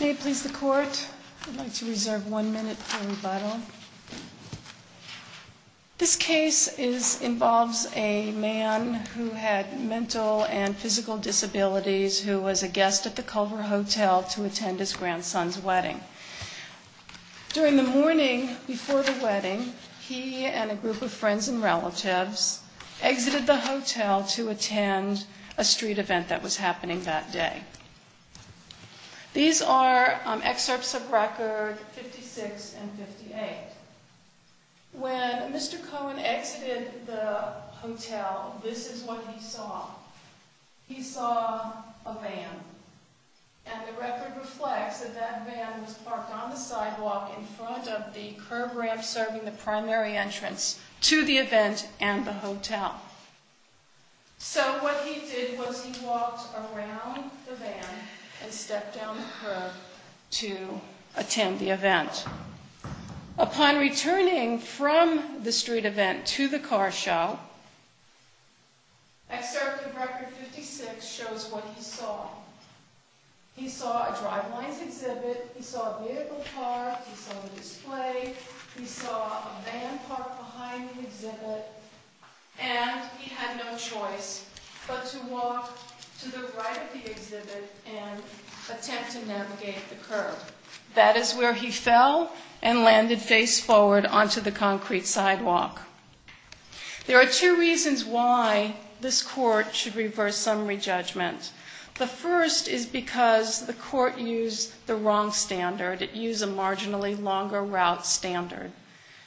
May it please the court, I'd like to reserve one minute for rebuttal. This case involves a man who had mental and physical disabilities who was a guest at the Culver Hotel to attend his grandson's wedding. During the morning before the wedding, he and a group of friends and relatives exited the hotel to attend a street event that was happening that day. These are excerpts of record 56 and 58. When Mr. Cohen exited the hotel, this is what he saw. He saw a van, and the record reflects that that van was parked on the sidewalk in front of the curb ramp serving the primary entrance to the event and the hotel. So what he did was he walked around the van and stepped down the curb to attend the event. Upon returning from the street event to the car show, excerpt of record 56 shows what he saw. He saw a drive-by exhibit, he saw a vehicle parked, he saw a display, he saw a van parked behind the exhibit, and he had no choice but to walk to the right of the exhibit and attempt to navigate the curb. That is where he fell and landed face forward onto the concrete sidewalk. There are two reasons why this court should reverse summary judgment. The first is because the court used the wrong standard. It used a marginally longer route standard.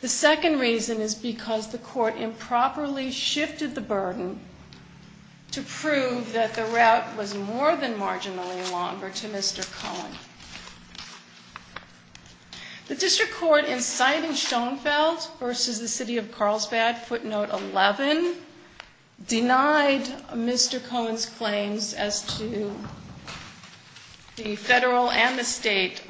The second reason is because the court improperly shifted the burden to prove that the route was more than marginally longer to Mr. Cohen. The district court inciting Schoenfeld versus the city of Carlsbad, footnote 11, denied Mr. Cohen's claims as to the federal and the state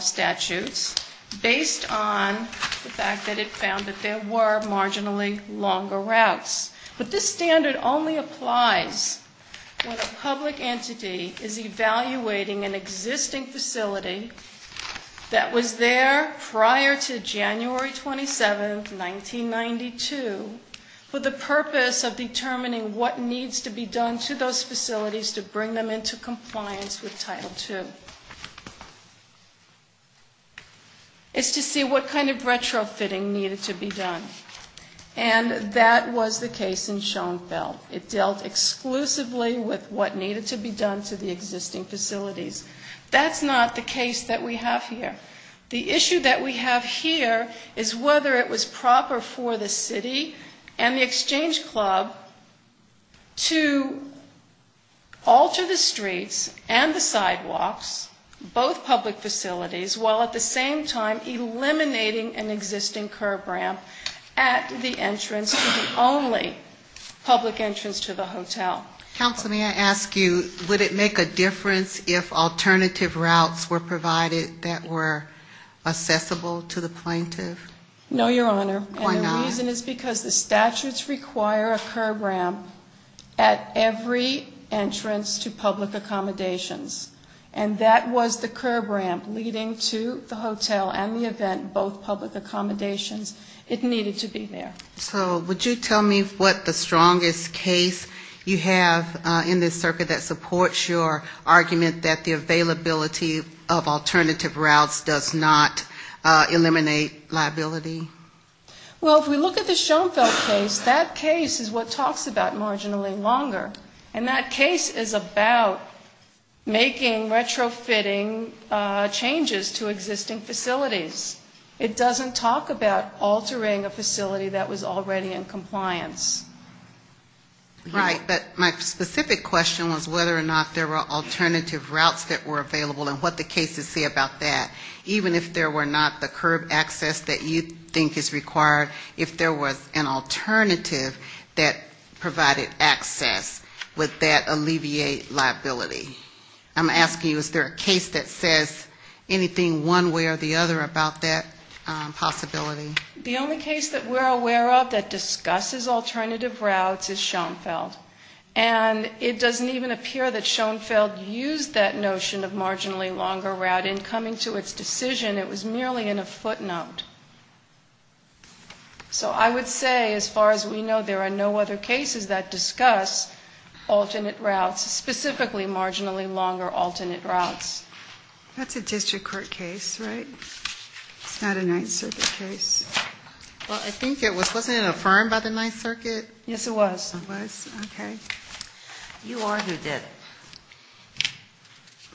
statutes based on the fact that it found that there were marginally longer routes. But this standard only applies when a public entity is evaluating an existing facility that was there prior to January 27, 1992, for the purpose of determining what needs to be done to those facilities to bring them into compliance with Title II. It's to see what kind of retrofitting needed to be done. And that was the case in Schoenfeld. It dealt exclusively with what needed to be done to the existing facilities. That's not the case that we have here. The issue that we have here is whether it was proper for the city and the exchange club to alter the streets and the sidewalks, both public facilities, while at the same time eliminating an existing curb ramp at the entrance to the only public entrance to the hotel. Counsel, may I ask you, would it make a difference if alternative routes were provided that were accessible to the plaintiff? No, Your Honor. Why not? And the reason is because the statutes require a curb ramp at every entrance to public accommodations. And that was the curb ramp leading to the hotel and the event, both public accommodations. It needed to be there. So would you tell me what the strongest case you have in this circuit that supports your argument that the availability of alternative routes does not eliminate liability? Well, if we look at the Schoenfeld case, that case is what talks about marginally longer. And that case is about making retrofitting changes to existing facilities. It doesn't talk about altering a facility that was already in compliance. Right. But my specific question was whether or not there were alternative routes that were available and what the cases say about that. Even if there were not the curb access that you think is required, if there was an alternative that provided access, would that alleviate liability? I'm asking you, is there a case that says anything one way or the other about that possibility? The only case that we're aware of that discusses alternative routes is Schoenfeld. And it doesn't even appear that Schoenfeld used that notion of marginally longer route in coming to its decision. It was merely in a footnote. So I would say, as far as we know, there are no other cases that discuss alternate routes, specifically marginally longer alternate routes. That's a district court case, right? It's not a Ninth Circuit case. Well, I think it was. Wasn't it affirmed by the Ninth Circuit? Yes, it was. It was? Okay. You argued that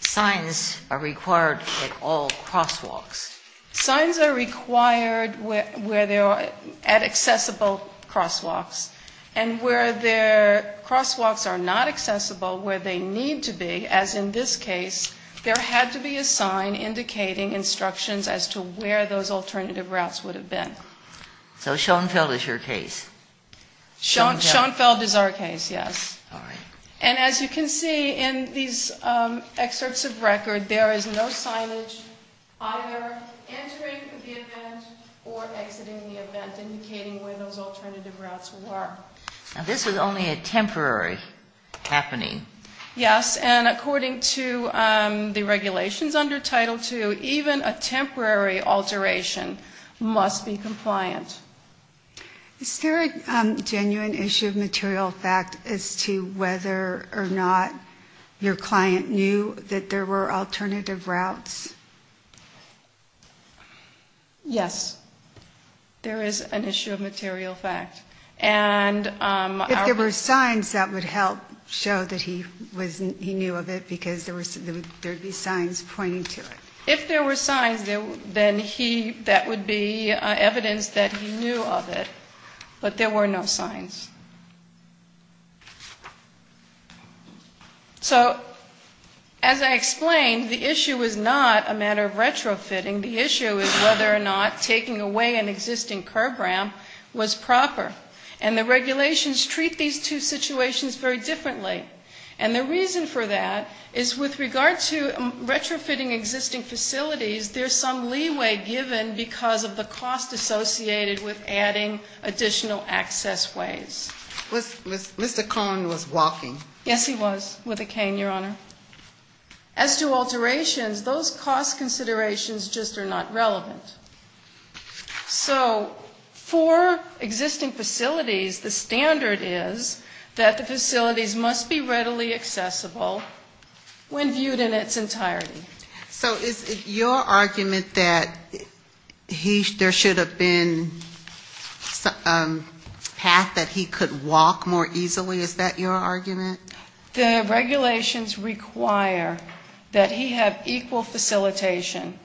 signs are required at all crosswalks. Signs are required at accessible crosswalks. And where the crosswalks are not accessible where they need to be, as in this case, there had to be a sign indicating instructions as to where those alternative routes would have been. So Schoenfeld is your case? Schoenfeld is our case, yes. All right. And as you can see in these excerpts of record, there is no signage either entering the event or exiting the event indicating where those alternative routes were. Now, this was only a temporary happening. Yes. And according to the regulations under Title II, even a temporary alteration must be compliant. Is there a genuine issue of material fact as to whether or not your client knew that there were alternative routes? Yes, there is an issue of material fact. If there were signs, that would help show that he knew of it because there would be signs pointing to it. If there were signs, then that would be evidence that he knew of it. But there were no signs. So as I explained, the issue is not a matter of retrofitting. The issue is whether or not taking away an existing curb ramp was proper. And the regulations treat these two situations very differently. And the reason for that is with regard to retrofitting existing facilities, there's some leeway given because of the cost associated with adding additional access ways. Mr. Cohn was walking. Yes, he was, with a cane, Your Honor. As to alterations, those cost considerations just are not relevant. So for existing facilities, the standard is that the facilities must be readily accessible when viewed in its entirety. So is it your argument that there should have been a path that he could walk more easily? Is that your argument? The regulations require that he have equal facilitation,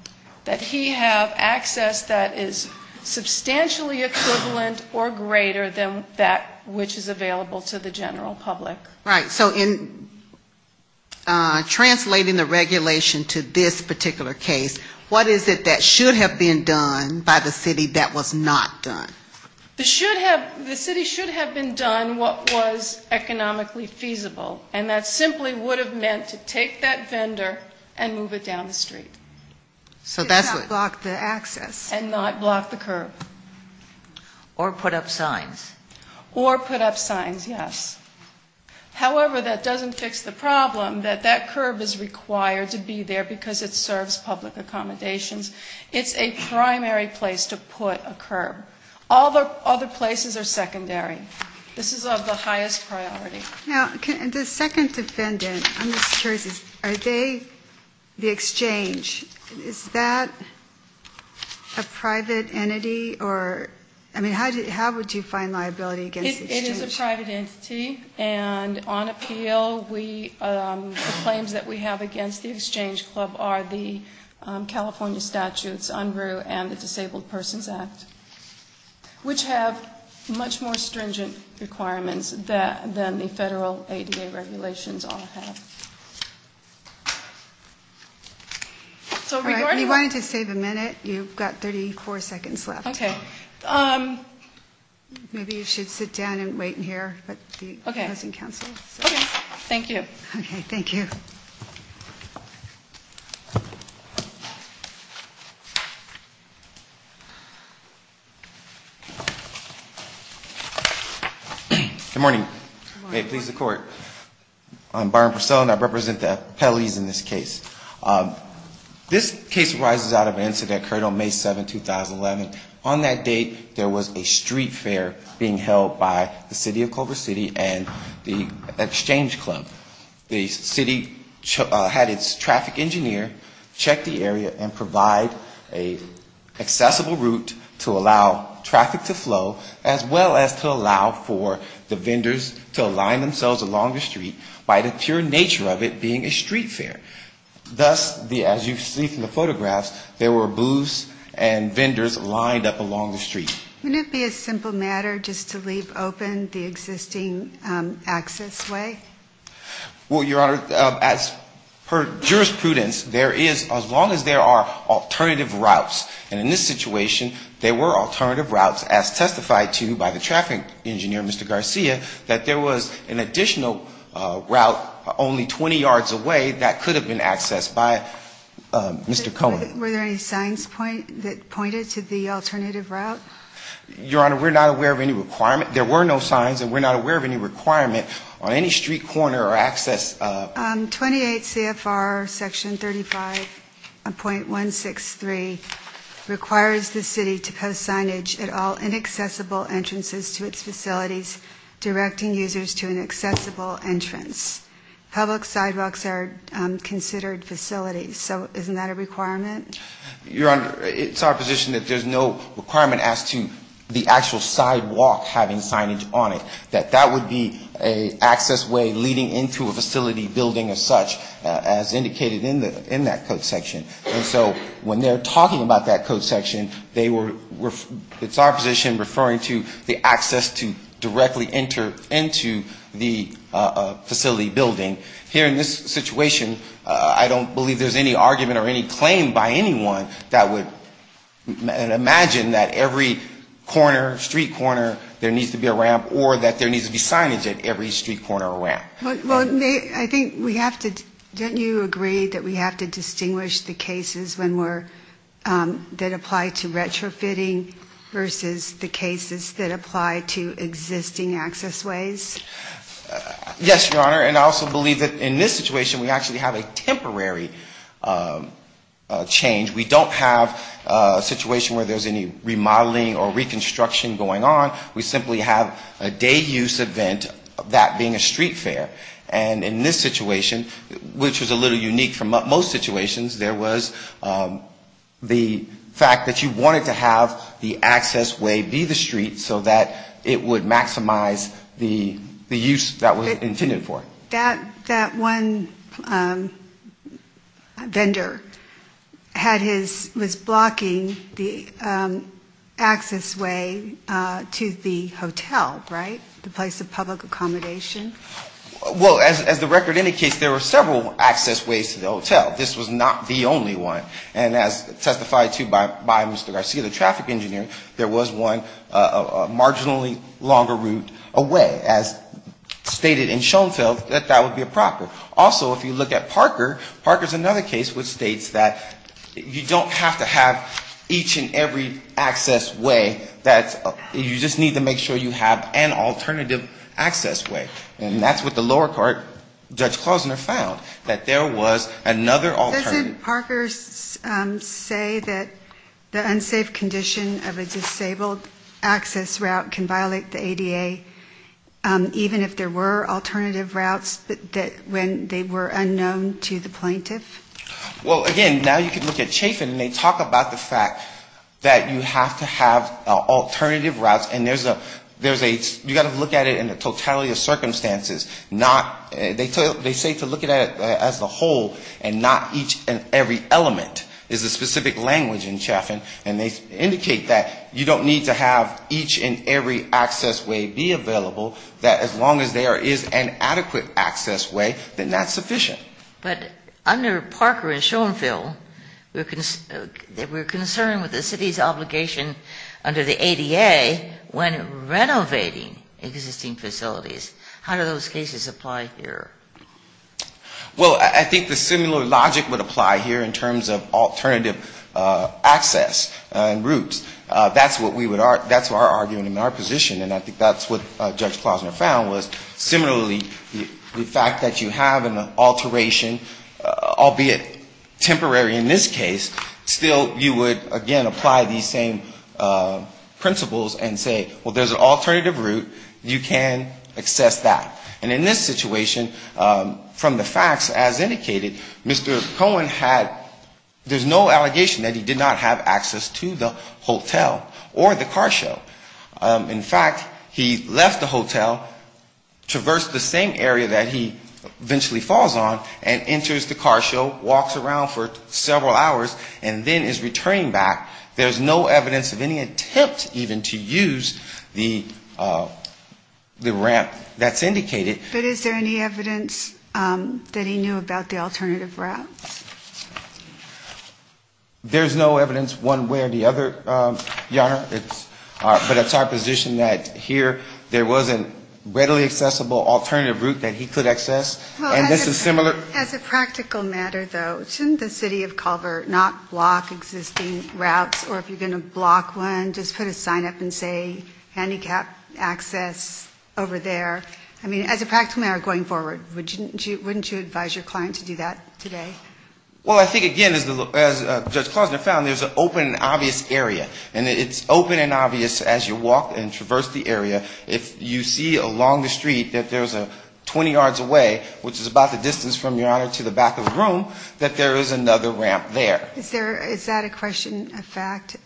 that he have access that is substantially equivalent or greater than that which is available to the general public. Right. So in translating the regulation to this particular case, what is it that should have been done by the city that was not done? The city should have been done what was economically feasible, and that simply would have meant to take that vendor and move it down the street. And not block the access. And not block the curb. Or put up signs. Or put up signs, yes. However, that doesn't fix the problem that that curb is required to be there because it serves public accommodations. It's a primary place to put a curb. All the other places are secondary. This is of the highest priority. Now, the second defendant, I'm just curious, are they the exchange? Is that a private entity or, I mean, how would you find liability against the exchange? It is a private entity. And on appeal, the claims that we have against the exchange club are the California statutes, UNRU and the Disabled Persons Act, which have much more stringent requirements than the federal ADA regulations all have. All right. We wanted to save a minute. You've got 34 seconds left. Okay. Maybe you should sit down and wait in here. Okay. It hasn't canceled. Okay. Thank you. Okay. Thank you. Good morning. May it please the Court. I'm Byron Purcell and I represent the appellees in this case. This case arises out of an incident that occurred on May 7, 2011. On that date, there was a street fair being held by the city of Culver City and the exchange club. The city had its traffic engineer check the area and provide an accessible route to allow traffic to flow, as well as to allow for the vendors to align themselves along the street by the pure nature of it being a street fair. Thus, as you see from the photographs, there were booths and vendors lined up along the street. Wouldn't it be a simple matter just to leave open the existing access way? Well, Your Honor, as per jurisprudence, there is, as long as there are alternative routes, and in this situation, there were alternative routes as testified to by the traffic engineer, Mr. Garcia, that there was an additional route only 20 yards away that could have been accessed by Mr. Cullen. Were there any signs that pointed to the alternative route? Your Honor, we're not aware of any requirement. There were no signs and we're not aware of any requirement on any street corner or access. 28 CFR Section 35.163 requires the city to post signage at all inaccessible entrances to its facilities, directing users to an accessible entrance. Public sidewalks are considered facilities. So isn't that a requirement? Your Honor, it's our position that there's no requirement as to the actual sidewalk having signage on it. That that would be an access way leading into a facility building as such, as indicated in that code section. And so when they're talking about that code section, they were, it's our position, referring to the access to directly enter into the facility building. Here in this situation, I don't believe there's any argument or any claim by anyone that would imagine that every corner, street corner, there needs to be a ramp or that there needs to be signage at every street corner or ramp. Well, I think we have to, don't you agree that we have to distinguish the cases when we're, that apply to retrofitting versus the cases that apply to construction. I also believe that in this situation we actually have a temporary change. We don't have a situation where there's any remodeling or reconstruction going on. We simply have a day use event, that being a street fair. And in this situation, which was a little unique from most situations, there was the fact that you wanted to have the access way be the street so that it would maximize the use that was intended for. That one vendor had his, was blocking the access way to the hotel, right? The place of public accommodation? Well, as the record indicates, there were several access ways to the hotel. This was not the only one. And as testified to by Mr. Garcia, the traffic engineer, there was one marginally longer route away. As stated in Schoenfeld, there was one way to get to the hotel. So that would be a proper. Also, if you look at Parker, Parker's another case which states that you don't have to have each and every access way, that's, you just need to make sure you have an alternative access way. And that's what the lower court, Judge Klausner found, that there was another alternative. Doesn't Parker's say that the unsafe condition of a disabled access route can violate the ADA, even if there were alternative routes? When they were unknown to the plaintiff? Well, again, now you can look at Chaffin, and they talk about the fact that you have to have alternative routes, and there's a, you've got to look at it in the totality of circumstances, not, they say to look at it as a whole, and not each and every element is a specific language in Chaffin. And they indicate that you don't need to have each and every access way be available, that as long as there is an adequate alternative access way, then that's sufficient. But under Parker and Schoenfeld, we're concerned with the city's obligation under the ADA when renovating existing facilities. How do those cases apply here? Well, I think the similar logic would apply here in terms of alternative access and routes. That's what we would argue, that's our argument in our position, and I think that's what Judge Klausner found, was similarly, the fact that you have an alteration, albeit temporary in this case, still you would, again, apply these same principles and say, well, there's an alternative route, you can access that. And in this situation, from the facts as indicated, Mr. Cohen had, there's no allegation that he did not have access to the hotel or the car show. In fact, he left the hotel, traversed the same area that he eventually falls on, and enters the car show, walks around for several hours, and then is returning back. There's no evidence of any attempt even to use the ramp that's indicated. But is there any evidence that he knew about the alternative route? There's no evidence one way or the other, Your Honor, but it's our position that here there was a readily accessible alternative route that he could access, and this is similar. As a practical matter, though, shouldn't the city of Culver not block existing routes, or if you're going to block one, just put a sign up and say handicap access over there? I mean, as a practical matter going forward, wouldn't you advise your client to do that today? Well, I think, again, as Judge Klozner found, there's an open and obvious area, and it's open and obvious as you walk and traverse the area. If you see along the street that there's a 20 yards away, which is about the distance from your Honor to the back of the room, that there is another ramp there. Is that a question, a fact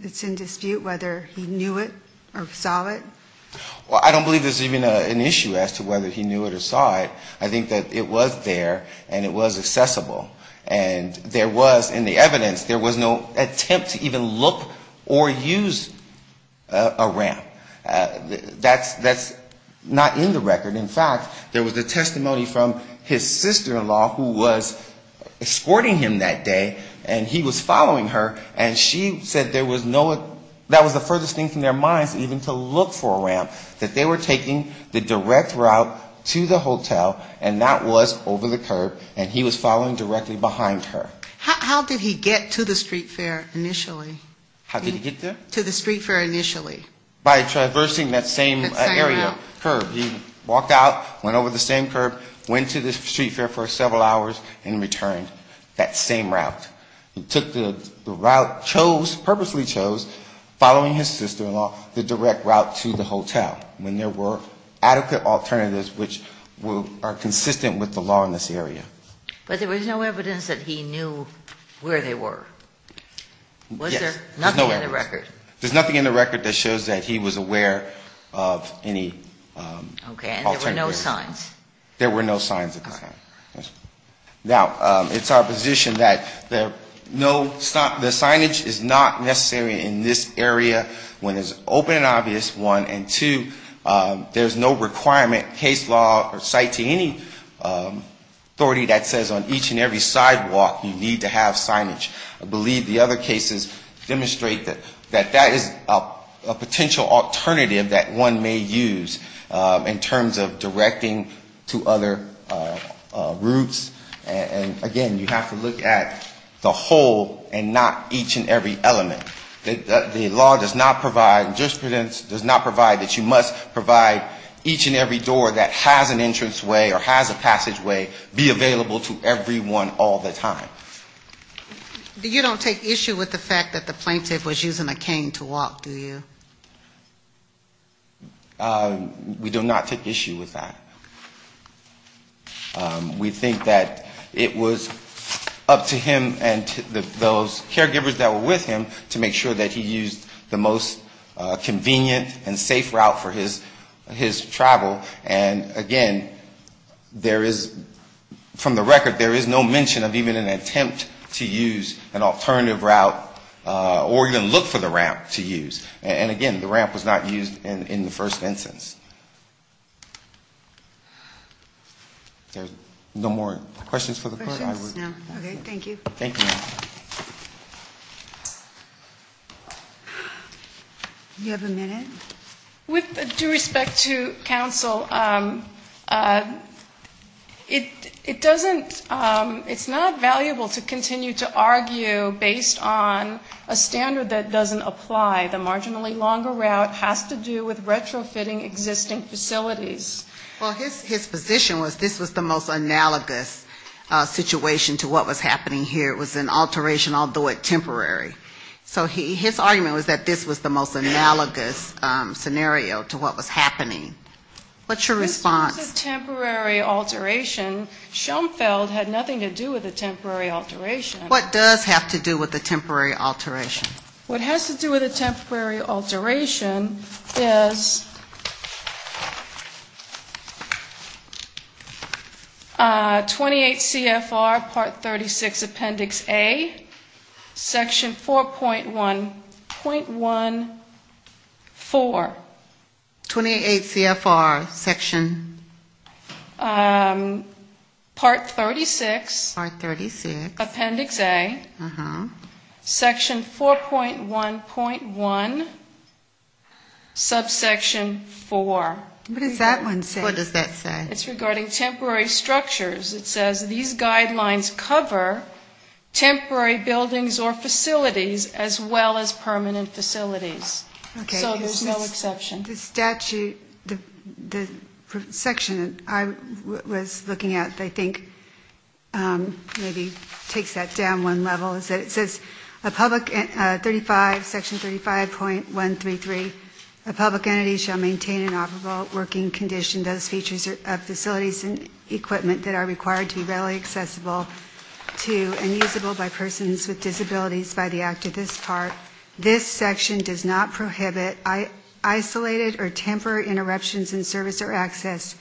that's in dispute, whether he knew it or saw it? Well, I don't believe there's even an issue as to whether he knew it or saw it. I think that it was there, and it was accessible. And there was, in the evidence, there was no attempt to even look or use a ramp. That's not in the record. In fact, there was a testimony from his sister-in-law who was escorting him that day, and he was following her, and she said there was no, that was the furthest thing from their minds even to look for a ramp, that they were taking the direct route to the hotel, and that was over the curb, and he was following directly behind her. How did he get to the street fair initially? How did he get there? To the street fair initially. By traversing that same area, curb. He walked out, went over the same curb, went to the street fair for several hours, and returned that same route. He took the route, chose, purposely chose, following his sister-in-law, the direct route to the hotel, when there were adequate alternatives which are consistent with the law in this area. But there was no evidence that he knew where they were? Was there nothing in the record? There's nothing in the record that shows that he was aware of any alternatives. Okay. And there were no signs? There were no signs at the time. Now, it's our position that no, the signage is not necessary in this area when it's open and obvious, one, and two, there's no requirement, case law or site to any authority that says on each and every sidewalk you need to have signage. And I believe the other cases demonstrate that that is a potential alternative that one may use in terms of directing to other routes. And again, you have to look at the whole and not each and every element. The law does not provide, the jurisprudence does not provide that you must provide each and every door that has an entranceway or has a passageway be available to everyone all the time. And you don't take issue with the fact that the plaintiff was using a cane to walk, do you? We do not take issue with that. We think that it was up to him and those caregivers that were with him to make sure that he used the most convenient and safe route for his travel. And again, there is, from the record, there is no mention of even an attempt to use an alternative route. Or even look for the ramp to use. And again, the ramp was not used in the first instance. There's no more questions for the court? Okay. Thank you. You have a minute. With due respect to counsel, it doesn't, it's not valuable to continue to argue based on a standard that doesn't apply. The marginally longer route has to do with retrofitting existing facilities. Well, his position was this was the most analogous situation to what was happening here. It was an alteration, I'll do it temporary. What's your response? It was a temporary alteration. Schoenfeld had nothing to do with a temporary alteration. What does have to do with a temporary alteration? What has to do with a temporary alteration is 28 CFR part 36 appendix A, section 4.1.14. 28 CFR section? Part 36 appendix A, section 4.1.1, subsection 4. What does that one say? It's regarding temporary structures. It says these guidelines cover temporary buildings or facilities as well as permanent facilities. So there's no exception. The statute, the section I was looking at I think maybe takes that down one level. It says section 35.133, a public entity shall maintain an operable working condition. Those features of facilities and equipment that are required to be readily accessible to and usable by persons with disabilities by the act of this part. This section does not prohibit isolated or temporary interruptions in service or access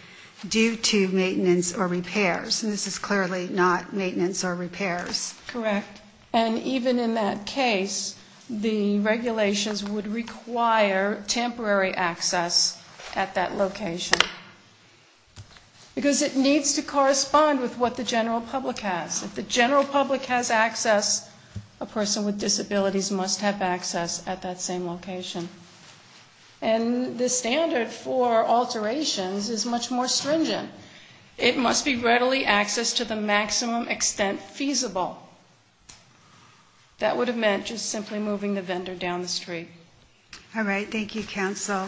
due to maintenance or repairs. And this is clearly not maintenance or repairs. Correct. And even in that case, the regulations would require temporary access at that location. Because it needs to correspond with what the general public has. If the general public has access, a person with disabilities must have access at that same location. And the standard for alterations is much more stringent. It must be readily accessed to the maximum extent feasible. That would have meant just simply moving the vendor down the street. All right. Thank you, counsel. Thank you.